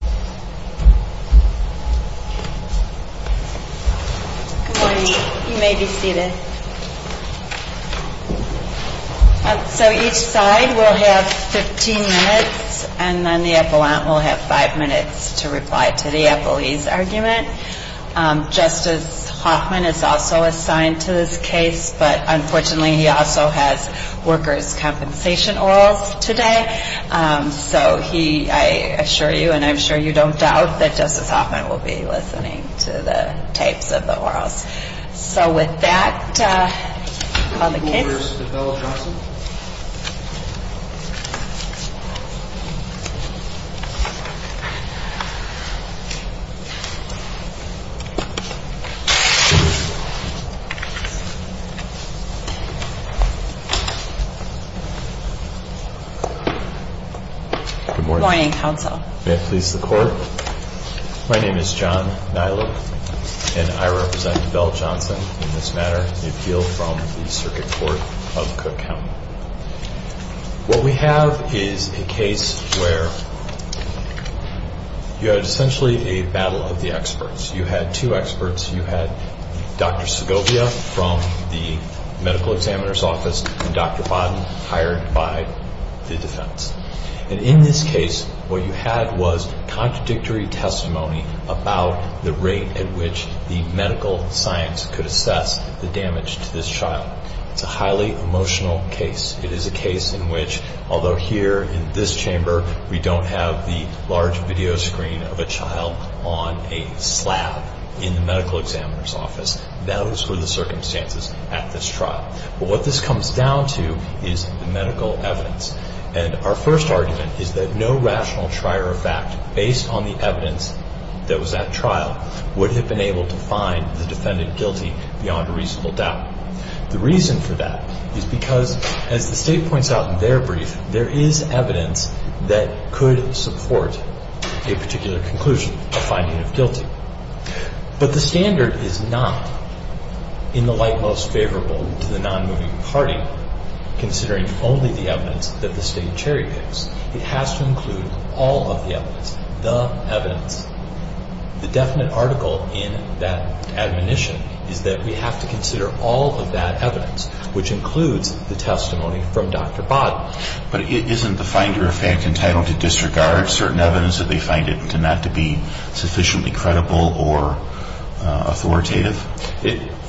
Good morning. You may be seated. So each side will have 15 minutes, and then the appellant will have 5 minutes to reply to the appellee's argument. Justice Hoffman is also assigned to this case, but unfortunately he also has workers' compensation orals today. So he, I assure you, and I'm sure you don't doubt, that Justice Hoffman will be listening to the tapes of the orals. So with that, I'll call the case. Good morning, counsel. May it please the Court? My name is John Nilek, and I represent Beall Court of Cook County. What we have is a case where you had essentially a battle of the experts. You had two experts. You had Dr. Segovia from the medical examiner's office and Dr. Bodden hired by the defense. And in this case, what you had was contradictory testimony about the rate at which the medical science could assess the damage to this child. It's a highly emotional case. It is a case in which, although here in this chamber we don't have the large video screen of a child on a slab in the medical examiner's office, those were the circumstances at this trial. But what this comes down to is the medical evidence. And our first argument is that no rational trier of fact, based on the evidence that was at trial, would have been able to find the defendant guilty beyond a reasonable doubt. The reason for that is because, as the State points out in their brief, there is evidence that could support a particular conclusion, a finding of guilty. But the standard is not in the light most favorable to the non-moving party, considering only the evidence that the State cherry picks. It has to include all of the evidence, the evidence. The definite article in that admonition is that we have to consider all of that evidence, which includes the testimony from Dr. Bodden. But isn't the finder of fact entitled to disregard certain evidence if they find it not to be sufficiently credible or authoritative?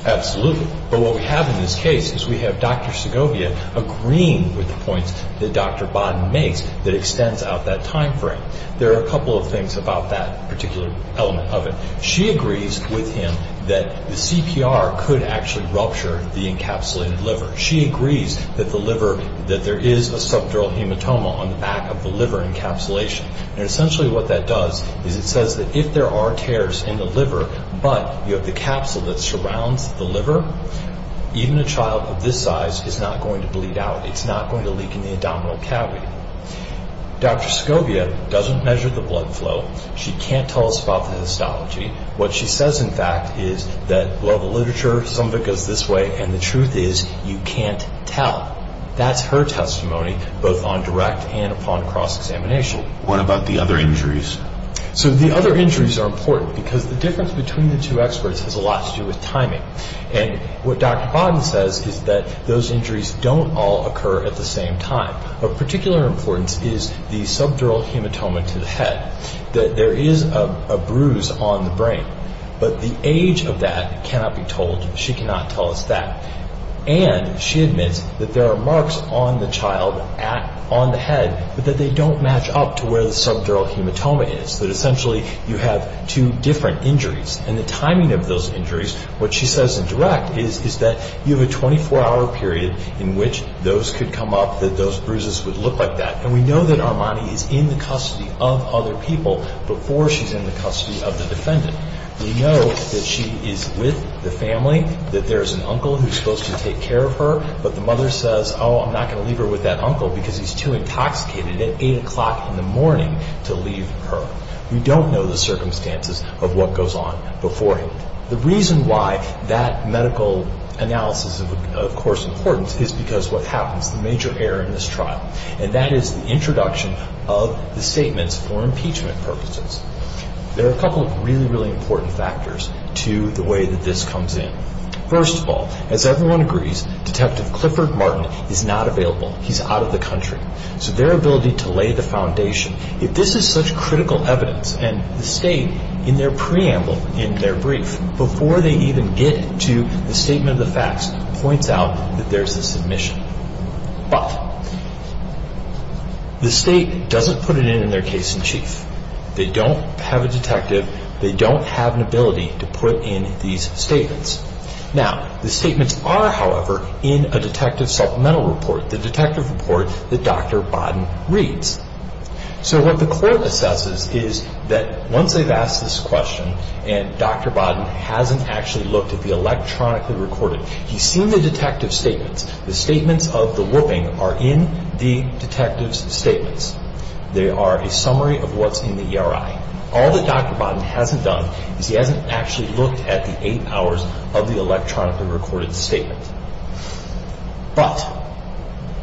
Absolutely. But what we have in this case is we have Dr. Segovia agreeing with the points that Dr. Bodden makes that extends out that time frame. There are a couple of things about that particular element of it. She agrees with him that the CPR could actually rupture the encapsulated liver. She agrees that the liver, that there is a subdural hematoma on the back of the liver encapsulation. And essentially what that does is it says that if there are tears in the liver, but you have the capsule that surrounds the liver, even a child of this size is not going to bleed out. It's not going to leak in the abdominal cavity. Dr. Segovia doesn't measure the blood flow. She can't tell us about the histology. What she says, in fact, is that, well, the literature, some of it goes this way, and the truth is you can't tell. That's her testimony, both on direct and upon cross-examination. What about the other injuries? So the other injuries are important because the difference between the two experts has a lot to do with timing. And what Dr. Bodden says is that those injuries don't all occur at the same time. Of particular importance is the subdural hematoma to the head. There is a bruise on the brain, but the age of that cannot be told. She cannot tell us that. And she admits that there are marks on the child, on the head, but that they don't match up to where the subdural hematoma is, that essentially you have two different injuries. And the timing of those injuries, what she says in direct, is that you have a 24-hour period in which those could come up, that those bruises would look like that. And we know that Armani is in the custody of other people before she's in the custody of the defendant. We know that she is with the family, that there's an uncle who's supposed to take care of her, but the mother says, oh, I'm not going to leave her with that uncle because he's too intoxicated at 8 o'clock in the morning to leave her. We don't know the circumstances of what goes on before him. The reason why that medical analysis is of course important is because of what happens, the major error in this trial, and that is the introduction of the statements for impeachment purposes. There are a couple of really, really important factors to the way that this comes in. First of all, as everyone agrees, Detective Clifford Martin is not available. He's out of the country. So their ability to lay the foundation, if this is such critical evidence and the state, in their preamble, in their brief, before they even get to the statement of the facts, points out that there's a submission. But, the state doesn't put it in in their case in chief. They don't have a detective. They don't have an ability to put in these statements. Now, the statements are, however, in a detective supplemental report, the detective report that Dr. Bodden reads. So what the court assesses is that once they've asked this question, and Dr. Bodden hasn't actually looked at the electronically recorded, he's seen the detective statements. The statements of the whooping are in the detective's statements. They are a summary of what's in the ERI. All that Dr. Bodden hasn't done is he hasn't actually looked at the eight hours of the electronically recorded statement. But,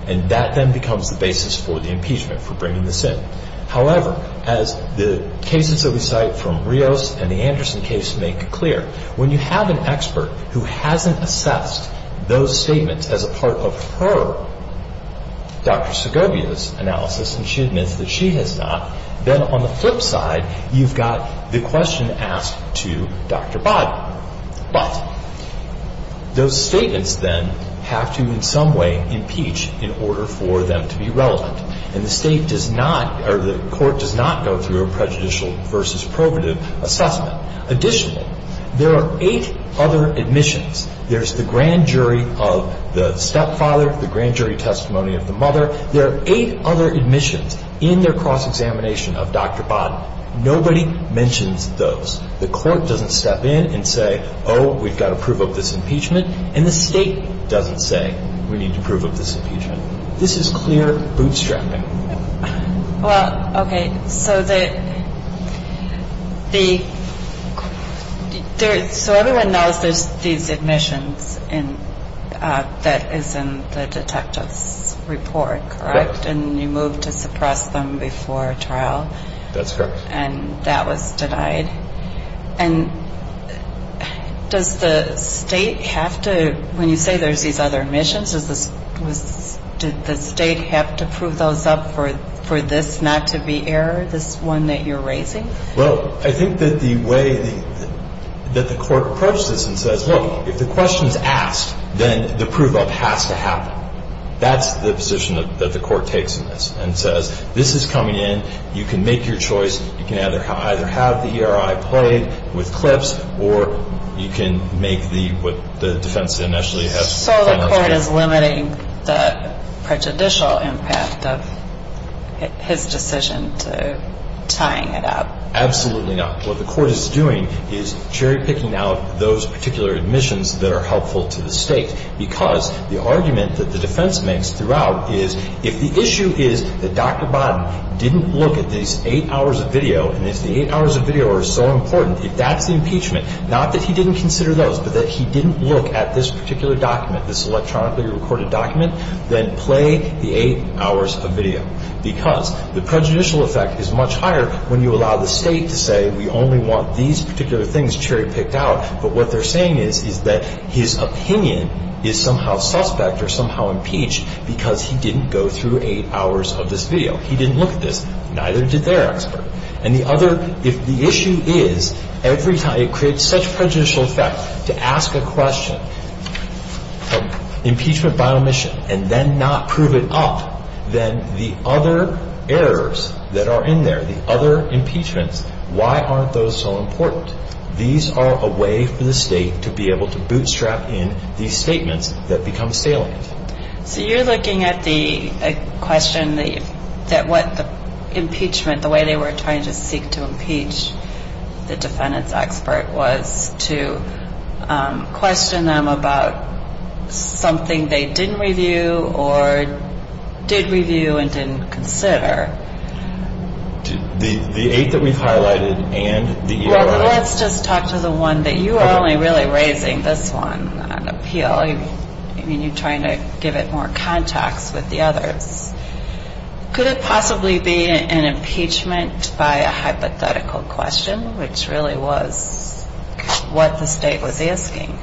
and that then becomes the basis for the impeachment, for bringing this in. However, as the cases that we cite from Rios and the Anderson case make clear, when you have an expert who hasn't assessed those statements as a part of her, Dr. Segovia's analysis, and she admits that she has not, then on the flip side, you've got the question asked to Dr. Bodden. But those statements then have to in some way impeach in order for them to be relevant. And the state does not, or the court does not go through a prejudicial versus probative assessment. Additionally, there are eight other admissions. There's the grand jury of the stepfather, the grand jury of the stepfather, the house examination of Dr. Bodden. Nobody mentions those. The court doesn't step in and say, oh, we've got to prove up this impeachment. And the state doesn't say, we need to prove up this impeachment. This is clear bootstrapping. Well, okay. So the, the, there, so everyone knows there's these admissions in, that is in the detective's report, correct? And you moved to suppress them before trial. That's correct. And that was denied. And does the state have to, when you say there's these other admissions, is this, was, did the state have to prove those up for, for this not to be error, this one that you're raising? Well, I think that the way that the court approaches this and says, look, if the question is asked, then the proof of has to happen. That's the position that the court takes in this and says, this is coming in. You can make your choice. You can either, either have the ERI played with clips or you can make the, what the defense initially has. So the court is limiting the prejudicial impact of his decision to tying it up? Absolutely not. What the court is doing is cherry picking out those particular admissions that are helpful to the state. Because the argument that the defense makes throughout is if the issue is that Dr. Botten didn't look at these eight hours of video, and if the eight hours of video are so important, if that's the impeachment, not that he didn't consider those, but that he didn't look at this particular document, this electronically recorded document, then play the eight hours of video. Because the prejudicial effect is much higher when you allow the state to say, we only want these particular things cherry picked out. But what they're saying is, is that his opinion is somehow suspect or somehow impeached because he didn't go through eight hours of this video. He didn't look at this. Neither did their expert. And the other, if the issue is, every time, it creates such prejudicial effect to ask a question, impeachment by omission, and then not prove it up, then the other errors that are in there, the other impeachments, why aren't those so important? These are a way for the state to be able to bootstrap in these statements that become salient. So you're looking at the question that what the impeachment, the way they were trying to seek to impeach the defendant's expert was to question them about something they highlighted. The eight that we've highlighted and the EOI. Well, let's just talk to the one that you are only really raising this one on appeal. I mean, you're trying to give it more context with the others. Could it possibly be an impeachment by a hypothetical question, which really was what the state was asking?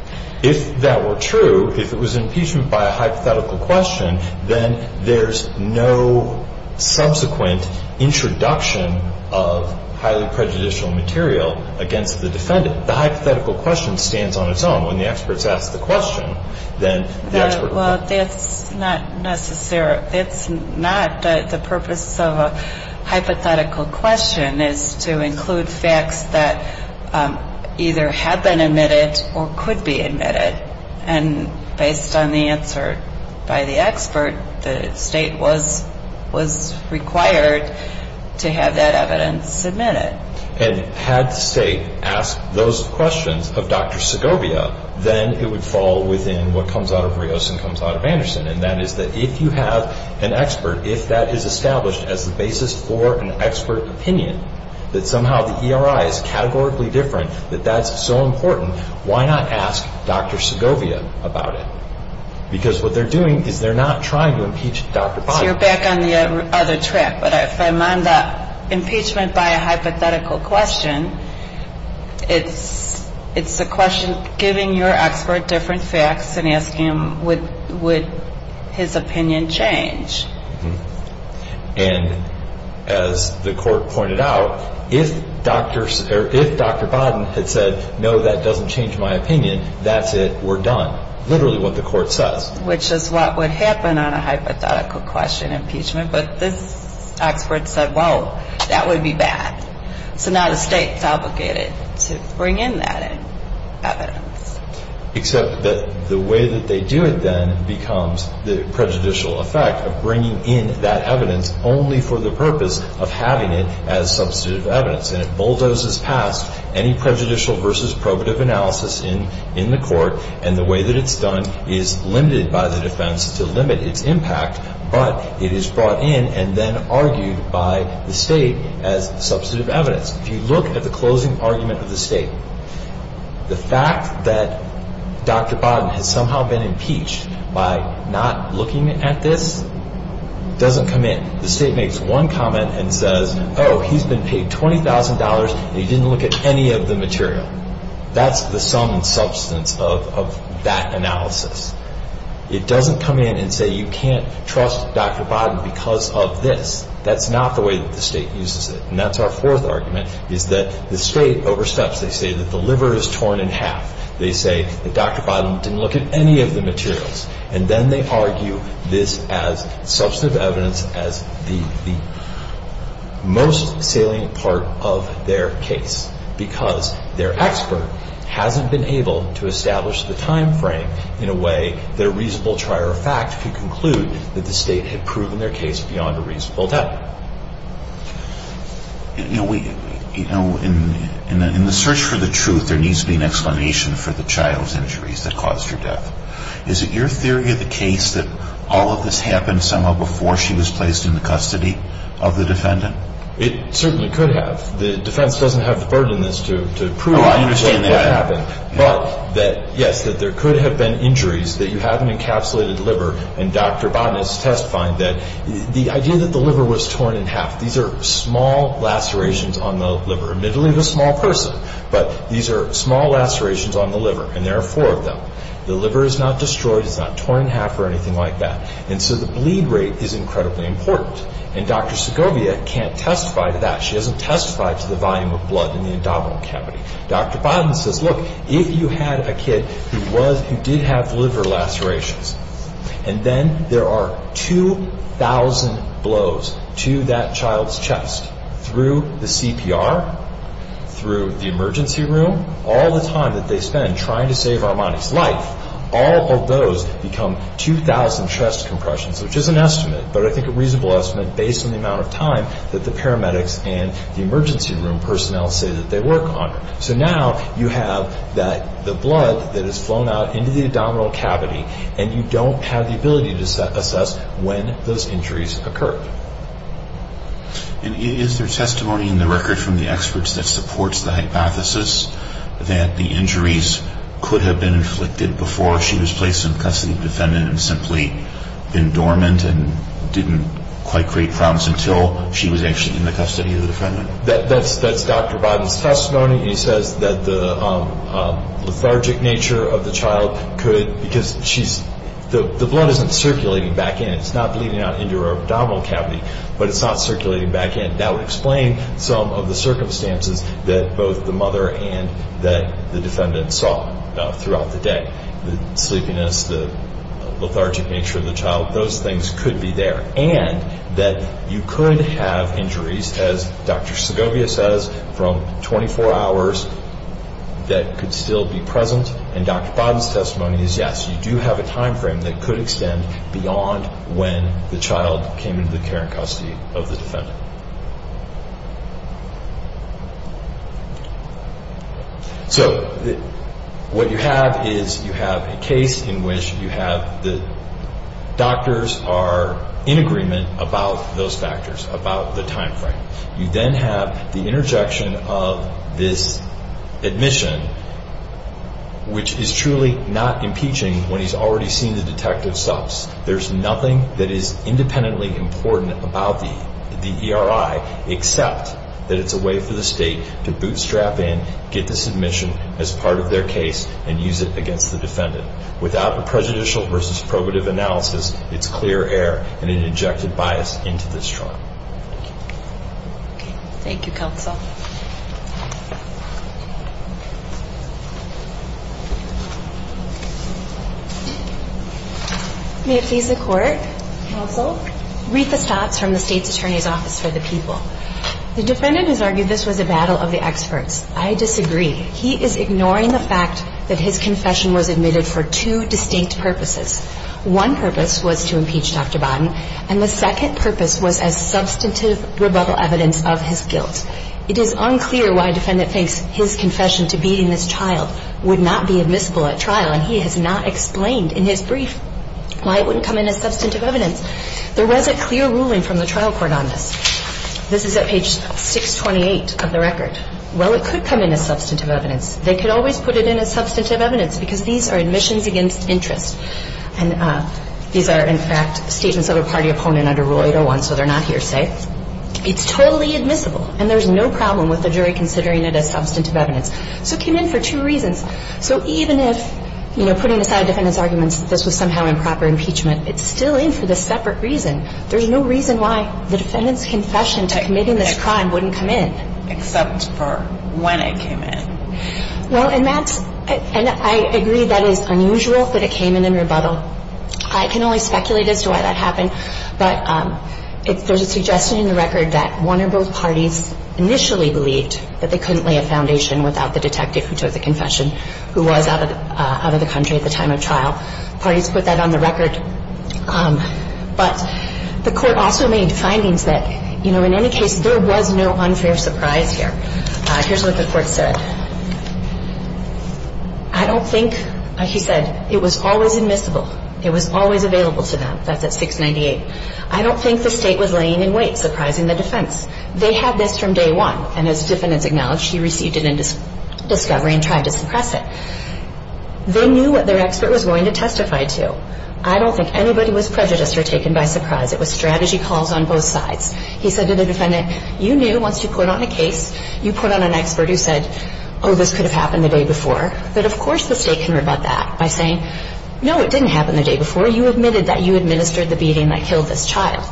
If that were true, if it was impeachment by a hypothetical question, then there's no subsequent introduction of highly prejudicial material against the defendant. The hypothetical question stands on its own. When the experts ask the question, then the expert... Well, that's not necessary. That's not the purpose of a hypothetical question is to include facts that either have been admitted or could be admitted. And based on the answer by the expert, to have that evidence submitted. And had the state asked those questions of Dr. Segovia, then it would fall within what comes out of Rios and comes out of Anderson. And that is that if you have an expert, if that is established as the basis for an expert opinion, that somehow the EOI is categorically different, that that's so important, why not ask Dr. Segovia about it? Because what they're doing is they're not trying to impeach Dr. Biden. You're back on the other track. But if I'm on the impeachment by a hypothetical question, it's a question giving your expert different facts and asking him, would his opinion change? And as the court pointed out, if Dr. Biden had said, no, that doesn't change my opinion, that's it, we're done. Literally what the court says. Which is what would happen on a hypothetical question impeachment. But this expert said, well, that would be bad. So now the state is obligated to bring in that evidence. Except that the way that they do it then becomes the prejudicial effect of bringing in that evidence only for the purpose of having it as substantive evidence. And it bulldozes past any prejudicial versus probative analysis in the court. And the way that it's done is limited by the defense to limit its impact, but it is brought in and then argued by the state as substantive evidence. If you look at the closing argument of the state, the fact that Dr. Biden has somehow been impeached by not looking at this doesn't come in. The state makes one comment and says, oh, he's been paid $20,000 and he didn't look at any of the material. That's the sum and substance of that analysis. It doesn't come in and say you can't trust Dr. Biden because of this. That's not the way that the state uses it. And that's our fourth argument, is that the state oversteps. They say that the liver is torn in half. They say that Dr. Biden didn't look at any of the materials. And then they because their expert hasn't been able to establish the time frame in a way that a reasonable trier of fact could conclude that the state had proven their case beyond a reasonable doubt. You know, in the search for the truth, there needs to be an explanation for the child's injuries that caused her death. Is it your theory of the case that all of this happened somehow before she was placed in the custody of the defendant? It certainly could have. The defense doesn't have the burden in this to prove what happened. But, yes, there could have been injuries that you have an encapsulated liver and Dr. Biden has testified that the idea that the liver was torn in half, these are small lacerations on the liver, admittedly of a small person, but these are small lacerations on the liver and there are four of them. The liver is not destroyed, it's not torn in half or anything like that. And so the bleed rate is incredibly important. And Dr. Segovia can't testify to that. She hasn't testified to the volume of blood in the abdominal cavity. Dr. Biden says, look, if you had a kid who did have liver lacerations and then there are 2,000 blows to that child's chest through the CPR, through the emergency room, all the time that they spend trying to save Armani's life, all of those become 2,000 chest compressions, which is an estimate, but I think a reasonable estimate based on the amount of time that the paramedics and the emergency room personnel say that they work on her. So now you have the blood that has flown out into the abdominal cavity and you don't have the ability to assess when those injuries occurred. And is there testimony in the record from the experts that supports the hypothesis that the injuries could have been inflicted before she was placed in custody of the defendant and simply been dormant and didn't quite create problems until she was actually in the custody of the defendant? That's Dr. Biden's testimony. He says that the lethargic nature of the child could, because the blood isn't circulating back in. It's not bleeding out into her abdominal cavity, but it's not circulating back in. That would explain some of the circumstances that both the mother and that the defendant saw throughout the day. The sleepiness, the lethargic nature of the child, those things could be there. And that you could have injuries, as Dr. Segovia says, from 24 hours that could still be present. And Dr. Biden's testimony is, yes, you do have a time frame that could extend beyond when the child came into the care and custody of the defendant. So, what you have is you have a case in which you have the doctors are in agreement about those factors, about the time frame. You then have the interjection of this admission, which is truly not impeaching when he's already seen the detective stops. There's nothing that is independently important about the ERI, except that it's a way for the state to bootstrap in, get the submission as part of their case, and use it against the defendant. Without a prejudicial versus probative analysis, it's clear air and an injected bias into this trial. Thank you, counsel. May it please the Court? Counsel. Retha Stotts from the state's attorney's office for the people. The defendant has argued this was a battle of the experts. I disagree. He is ignoring the fact that his confession was admitted for two distinct purposes. One purpose was to impeach Dr. Biden, and the Thank you. Thank you. Thank you. Thank you. Thank you. Thank you. Thank you. Thank you. Thank you. Thank you. Thank you. Thank you. I'll take a vote knowing that I've substantively proven unfolded issues. I'll take a vote knowing it's an issue of assessmnet. Not to it, I've merely arrived at the point that there should be substaintive rebuttal evidence of his guilt. It is unclear why a defendant thinks his confession to beating this child would not be admissible at trial. And he has not explained in his brief digs why it wouldn't come in as substantive evidence. There was a clear ruling from the trial court on this. It's totally admissible. And there's no problem with the jury considering it as substantive evidence. So it came in for two reasons. So even if, you know, putting aside defendants' arguments that this was somehow improper impeachment, it's still in for the separate reason. There's no reason why the defendant's confession to committing this crime wouldn't come in. Except for when it came in. Well, and that's – and I agree that is unusual that it came in in rebuttal. I can only speculate as to why that happened. But there's a suggestion in the record that one or both parties initially believed that they couldn't lay a foundation without the detective who took the confession, who was out of the country at the time of trial. Parties put that on the record. But the Court also made findings that, you know, in any case, there was no unfair surprise here. Here's what the Court said. I don't think – he said, it was always admissible. It was always available to them. That's at 698. I don't think the State was laying in wait, surprising the defense. They had this from day one. And as defendants acknowledged, he received it in discovery and tried to suppress it. They knew what their expert was going to testify to. I don't think anybody was prejudiced or taken by surprise. It was strategy calls on both sides. He said to the defendant, you knew once you put on a case, you put on an expert who said, oh, this could have happened the day before. But, of course, the State can rebut that by saying, no, it didn't happen the day before. You admitted that you administered the beating that killed this child.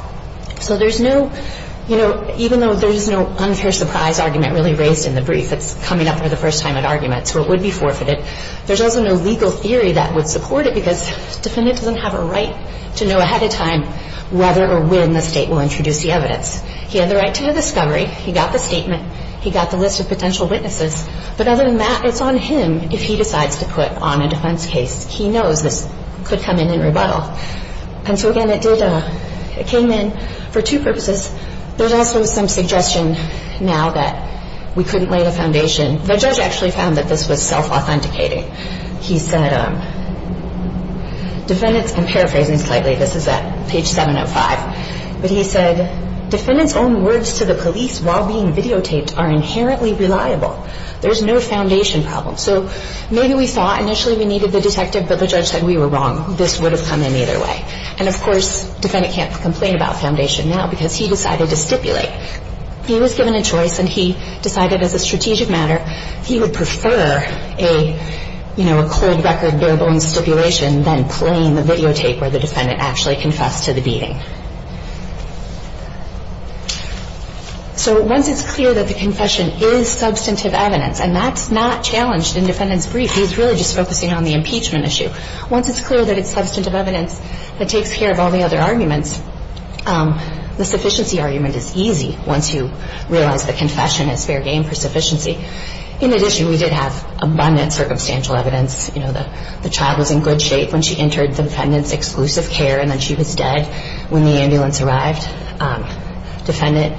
So there's no – you know, even though there's no unfair surprise argument really raised in the brief that's coming up for the first time at arguments, where it would be forfeited, there's also no legal theory that would support it because the defendant doesn't have a right to know ahead of time whether or when the State will introduce the evidence. He had the right to the discovery. He got the statement. He got the list of potential witnesses. But other than that, it's on him if he decides to put on a defense case. He knows this could come in in rebuttal. And so, again, it did – it came in for two purposes. There's also some suggestion now that we couldn't lay the foundation. The judge actually found that this was self-authenticating. He said, defendants – I'm paraphrasing slightly. This is at page 705. But he said, defendants' own words to the police while being videotaped are inherently reliable. There's no foundation problem. So maybe we thought initially we needed the detective, but the judge said we were wrong. This would have come in either way. And, of course, the defendant can't complain about foundation now because he decided to stipulate. He was given a choice, and he decided as a strategic matter he would prefer a, you know, a cold-record, bare-bones stipulation than playing the videotape where the defendant actually confessed to the beating. So once it's clear that the confession is substantive evidence, and that's not challenged in defendant's brief. He's really just focusing on the impeachment issue. Once it's clear that it's substantive evidence that takes care of all the other arguments, the sufficiency argument is easy once you realize that confession is fair game for sufficiency. In addition, we did have abundant circumstantial evidence. You know, the child was in good shape when she entered the defendant's exclusive care, and then she was dead when the ambulance arrived. Defendant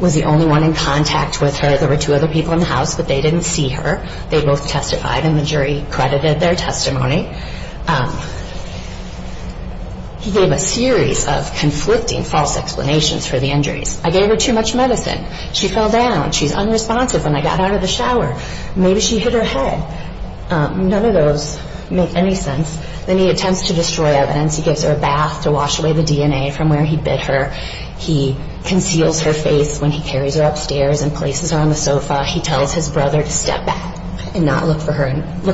was the only one in contact with her. There were two other people in the house, but they didn't see her. They both testified, and the jury credited their testimony. He gave a series of conflicting false explanations for the injuries. I gave her too much medicine. She fell down. She's unresponsive when I got out of the shower. Maybe she hit her head. None of those make any sense. Then he attempts to destroy evidence. He gives her a bath to wash away the DNA from where he bit her. He conceals her face when he carries her upstairs and places her on the sofa. He tells his brother to step back and not look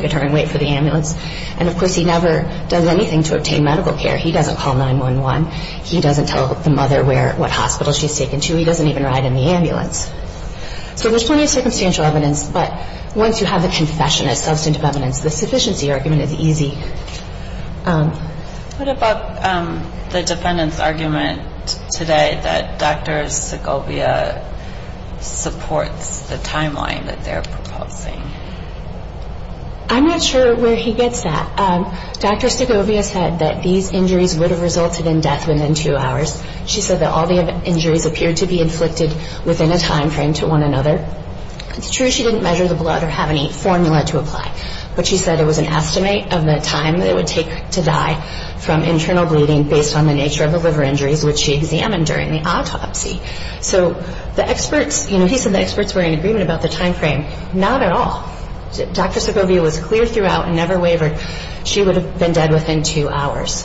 at her and wait for the ambulance. And, of course, he never does anything to obtain medical care. He doesn't call 911. He doesn't tell the mother what hospital she's taken to. He doesn't even ride in the ambulance. So there's plenty of circumstantial evidence, but once you have the confession as substantive evidence, the sufficiency argument is easy. What about the defendant's argument today that Dr. Segovia supports the timeline that they're proposing? I'm not sure where he gets that. Dr. Segovia said that these injuries would have resulted in death within two hours. She said that all the injuries appeared to be inflicted within a time frame to one another. It's true she didn't measure the blood or have any formula to apply, but she said it was an estimate of the time it would take to die from internal bleeding based on the nature of the liver injuries which she examined during the autopsy. So the experts, you know, he said the experts were in agreement about the time frame. Not at all. Dr. Segovia was clear throughout and never wavered. She would have been dead within two hours.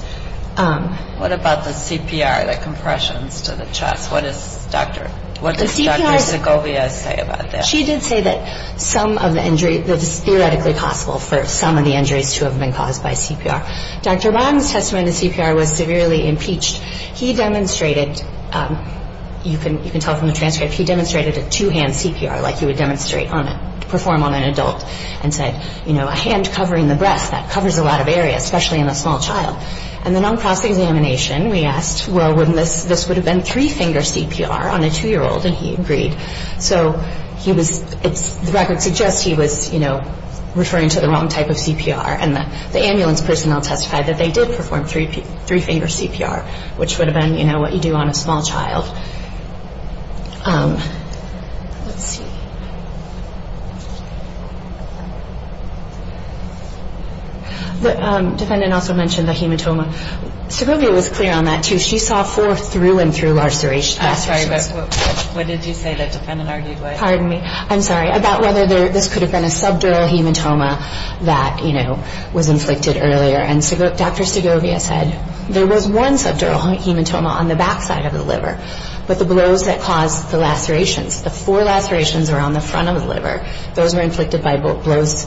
What about the CPR, the compressions to the chest? What does Dr. Segovia say about that? She did say that some of the injuries, that it's theoretically possible for some of the injuries to have been caused by CPR. Dr. Rang's testimony to CPR was severely impeached. He demonstrated, you can tell from the transcript, he demonstrated a two-hand CPR like you would demonstrate, perform on an adult and said, you know, a hand covering the breast, that covers a lot of areas, especially in a small child. And then on cross-examination, we asked, well, this would have been three-finger CPR on a two-year-old and he agreed. So the record suggests he was referring to the wrong type of CPR and the ambulance personnel testified that they did perform three-finger CPR, which would have been what you do on a small child. Let's see. The defendant also mentioned the hematoma. Segovia was clear on that, too. She saw four through and through lacerations. I'm sorry, what did you say the defendant argued? Pardon me. I'm sorry. About whether this could have been a subdural hematoma that was inflicted earlier. And Dr. Segovia said there was one subdural hematoma on the backside of the liver, but the blows that caused the lacerations, the four lacerations around the front of the liver, those were inflicted by blows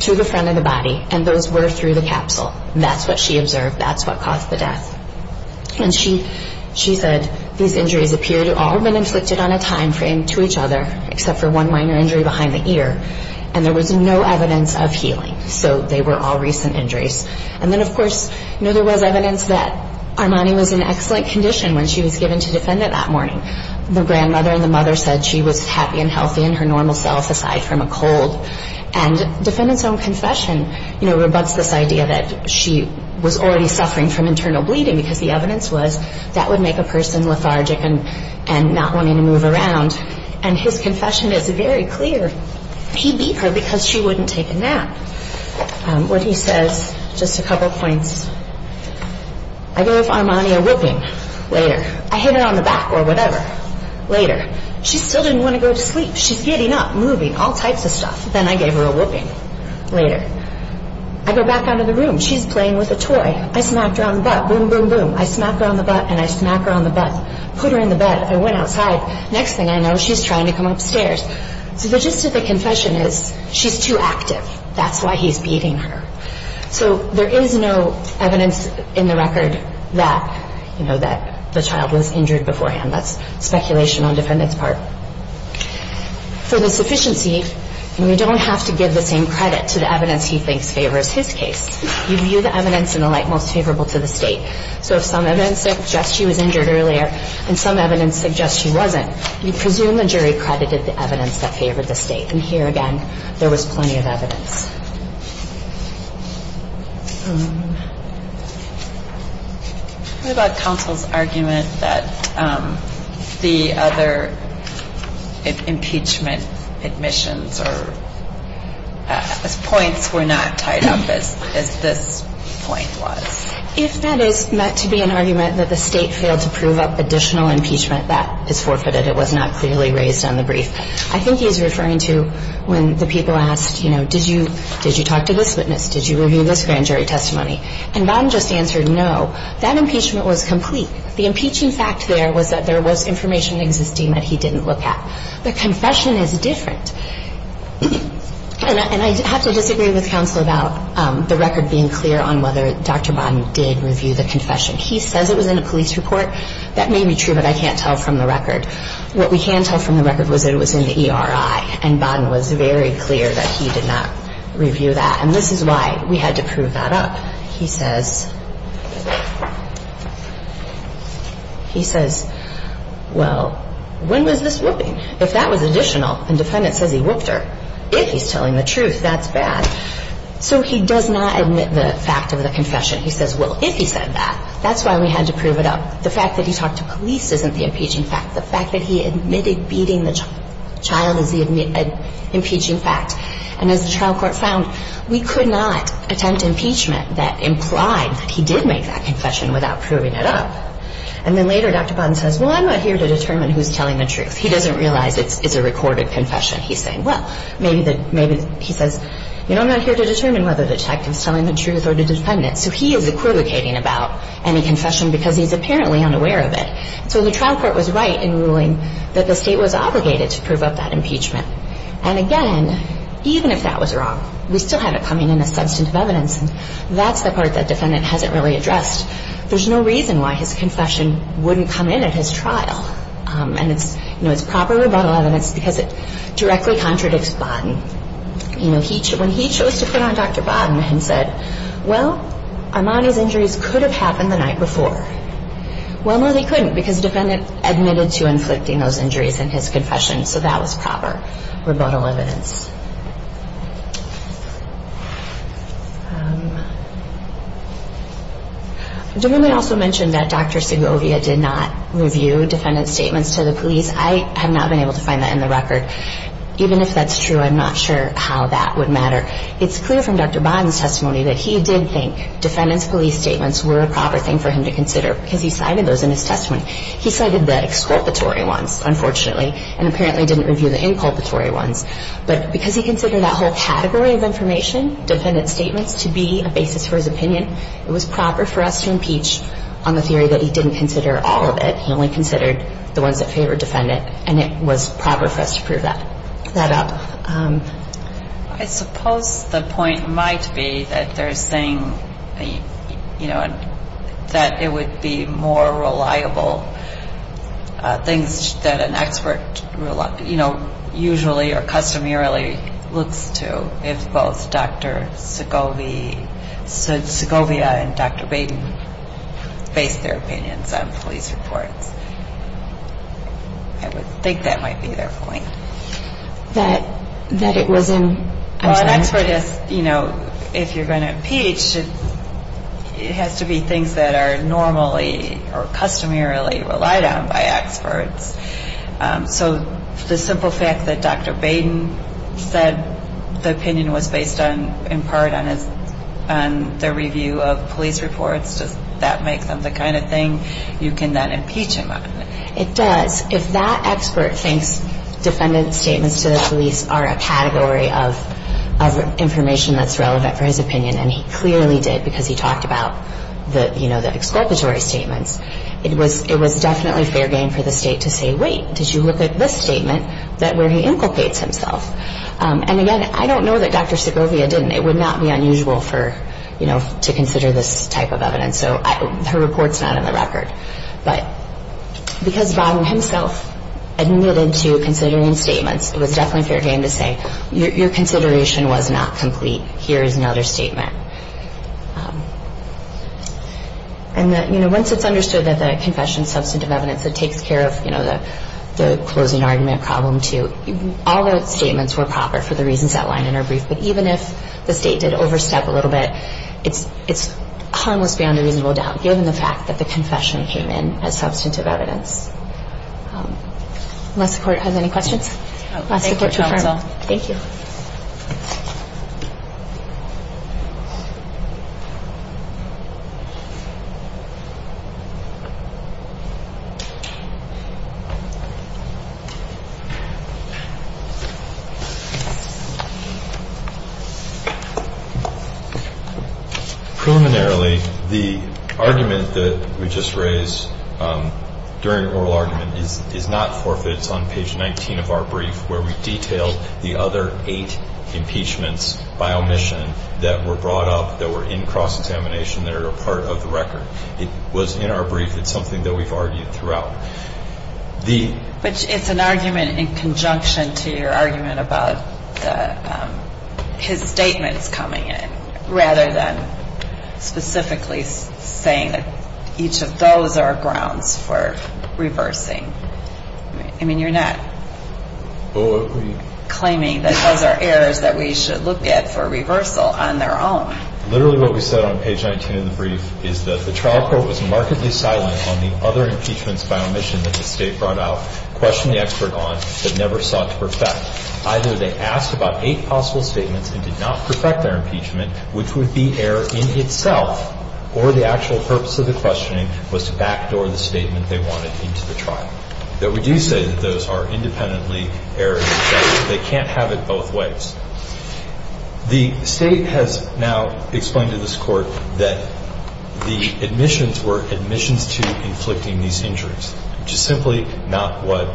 to the front of the body and those were through the capsule. That's what she observed. That's what caused the death. And she said these injuries appeared to all have been inflicted on a time frame to each other, except for one minor injury behind the ear, and there was no evidence of healing. So they were all recent injuries. And then, of course, there was evidence that Armani was in excellent condition when she was given to the defendant that morning. The grandmother and the mother said she was happy and healthy in her normal self, aside from a cold. And the defendant's own confession rebuts this idea that she was already suffering from internal bleeding because the evidence was that would make a person lethargic and not wanting to move around. And his confession is very clear. He beat her because she wouldn't take a nap. What he says, just a couple points. I gave Armani a whooping later. I hit her on the back or whatever later. She still didn't want to go to sleep. She's getting up, moving, all types of stuff. Then I gave her a whooping later. I go back out of the room. She's playing with a toy. I smack her on the butt, boom, boom, boom. I smack her on the butt, and I smack her on the butt. Put her in the bed. I went outside. Next thing I know, she's trying to come upstairs. So the gist of the confession is she's too active. That's why he's beating her. So there is no evidence in the record that the child was injured beforehand. That's speculation on defendant's part. For the sufficiency, we don't have to give the same credit to the evidence he thinks favors his case. We view the evidence in the light most favorable to the state. So if some evidence suggests she was injured earlier and some evidence suggests she wasn't, we presume the jury credited the evidence that favored the state. And here again, there was plenty of evidence. What about counsel's argument that the other impeachment admissions or points were not tied up as this point was? If that is meant to be an argument that the state failed to prove up additional impeachment, that is forfeited. I think he's referring to when the people asked, did you talk to this witness? Did you review this grand jury testimony? That impeachment was complete. There was information existing that he didn't look at. The confession is different. I have to disagree with counsel about the record being clear on whether Dr. Bodden did review the confession. He says it was in a police report. That may be true, but I can't tell from the record. What we can tell from the record is that it was in the ERI and Bodden was very clear that he did not review that. This is why we had to prove that up. He says, well, when was this whooping? If that was additional, if he's telling the truth, that's bad. So he does not admit the fact of the confession. He says, if he said that, that's why we had to prove it up. The fact that he talked to police isn't the impeaching fact. The fact that he admitted beating the child is the impeaching fact. As the trial court found, we could not attempt impeachment that implied he did make that confession without proving it up. Later, Dr. Bodden says, well, I'm not here to determine who's telling the truth. He doesn't realize it's a recorded confession. He says, I'm not here to determine whether the detective's telling the truth or the defendant. So he is equivocating about any confession because he's apparently unaware of it. So the trial court was right in ruling that the state was obligated to prove up that impeachment. And again, even if that was wrong, we still have it coming in as substantive evidence. And that's the part that the defendant hasn't really addressed. There's no reason why his confession wouldn't come in at his trial. And it's proper rebuttal evidence because it directly contradicts Bodden. When he chose to put on Dr. Bodden and said, well, Armani's injuries could have happened the night before. Well, no, they couldn't because the defendant admitted to inflicting those injuries in his confession. So that was proper rebuttal evidence. The woman also mentioned that Dr. Segovia did not review defendant's statements to the police. I have not been able to find that in the record. Even if that's true, I'm not sure how that would matter. It's clear from Dr. Bodden's testimony that he did think defendant's police statements were a proper thing for him to consider because he cited those in his testimony. He cited the exculpatory ones, unfortunately, and apparently didn't review the inculpatory ones. But because he considered that whole category of information, defendant's statements, to be a basis for his opinion, it was proper for us to impeach on the theory that he didn't consider all of it. He only considered the ones that favored defendant. And it was proper for us to prove that up. I suppose the point might be that they're saying that it would be more reliable things that an expert usually or customarily looks to if both Dr. Segovia and Dr. Bodden base their opinions on police reports. I would think that might be their point. An expert, if you're going to impeach, it has to be things that are normally or customarily relied on by experts. So the simple fact that Dr. Bodden said the opinion was based in part on the review of police reports, does that make them the kind of thing you can then impeach him on? It does. If that expert thinks defendant's statements to the police are a category of information that's relevant for his opinion and he clearly did because he talked about the exculpatory statements, it was definitely fair game for the state to say, wait, did you look at this statement where he inculcates himself? And again, I don't know that Dr. Segovia didn't. It would not be unusual to consider this type of evidence. Her report's not in the record. But because Bodden himself admitted to considering statements, it was definitely fair game to say, your consideration was not complete. Here is another statement. Once it's understood that the confession is substantive evidence that takes care of the closing argument problem too, all those statements were proper for the reasons outlined in her brief. But even if the state did overstep a little bit, it's harmless beyond a reasonable doubt given the fact that the confession came in as substantive evidence. Unless the court has any questions? Thank you, counsel. Preliminarily, the argument that we just raised during oral argument is not forfeits on page 19 of our brief where we detail the other eight impeachments by omission that were brought up that were in cross-examination that are part of the record. It was in our brief. It's something that we've argued throughout. But it's an argument in conjunction to your argument about his statements coming in rather than specifically saying that each of those are grounds for reversing. I mean, you're not claiming that those are errors that we should look at for reversal on their own. Literally what we said on page 19 of the brief is that the trial court was markedly silent on the other impeachments by omission that the state brought out, questioned the expert on, but never sought to perfect. Either they asked about eight possible statements and did not perfect their impeachment, which would be error in itself, or the actual purpose of the questioning was to backdoor the statement they wanted into the trial. But we do say that those are independently errors. They can't have it both ways. The state has now explained to this court that the omissions were omissions to inflicting these injuries, which is simply not what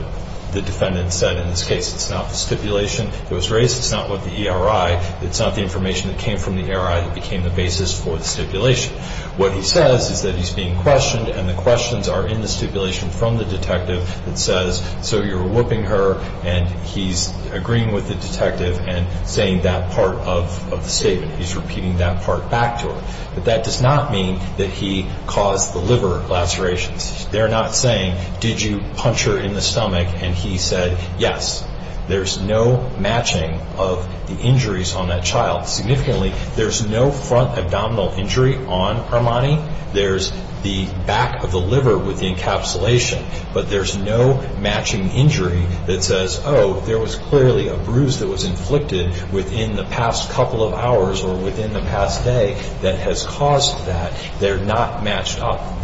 the defendant said in this case. It's not the stipulation that was raised. It's not what the ERI. It's not the information that came from the ERI that became the basis for the stipulation. What he says is that he's being questioned and the questions are in the stipulation from the detective that says, so you're whooping her and he's agreeing with the detective and saying that part of the statement. He's repeating that part back to her. But that does not mean that he caused the liver lacerations. They're not saying, did you punch her in the stomach? And he said, yes. There's no matching of the injuries on that child. Significantly, there's no front abdominal injury on Armani. There's the back of the liver with the encapsulation, but there's no matching injury that says, oh, there was clearly a bruise that was inflicted within the past couple of hours or within the past day that has caused that. They're not matched up.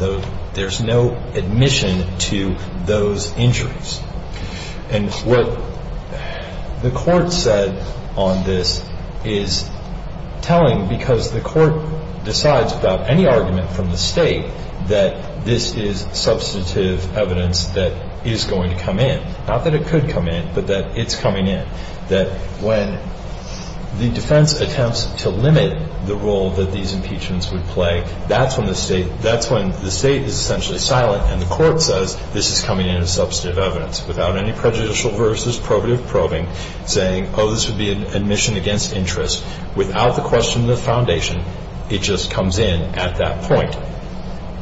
There's no admission to those injuries. And what the court said on this is telling because the court decides without any argument from the state that this is substantive evidence that is going to come in. Not that it could come in, but that it's coming in. That when the defense attempts to limit the role that these impeachments would play, that's when the state is essentially silent and the court says this is coming in as substantive evidence without any prejudicial versus probative probing saying, oh, this would be an admission against interest without the question of the foundation. It just comes in at that point.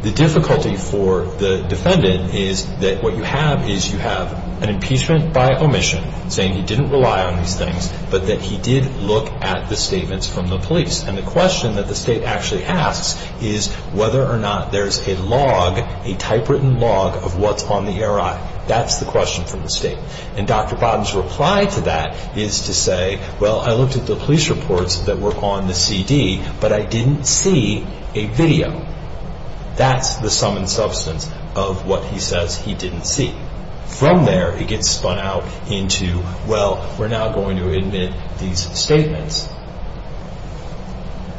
The difficulty for the defendant is that what you have is you have an impeachment by omission saying he didn't rely on these things, but that he did look at the statements from the police. And the question that the state actually asks is whether or not there's a log, a typewritten log of what's on the ERI. That's the question from the state. And Dr. Bottoms' reply to that is to say, well, I looked at the police reports that were on the CD, but I didn't see a video. That's the sum and substance of what he says he didn't see. From there, it gets spun out into, well, we're now going to admit these statements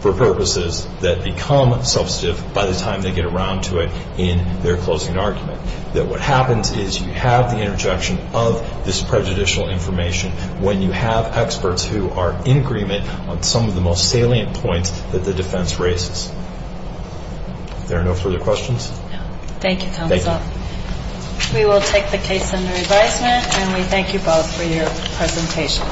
for purposes that become substantive by the time they get around to it in their closing argument. That what happens is you have the interjection of this prejudicial information when you have experts who are in agreement on some of the most salient points that the defense raises. There are no further questions? Thank you, counsel. We will take the case under advisement and we thank you both for your presentations.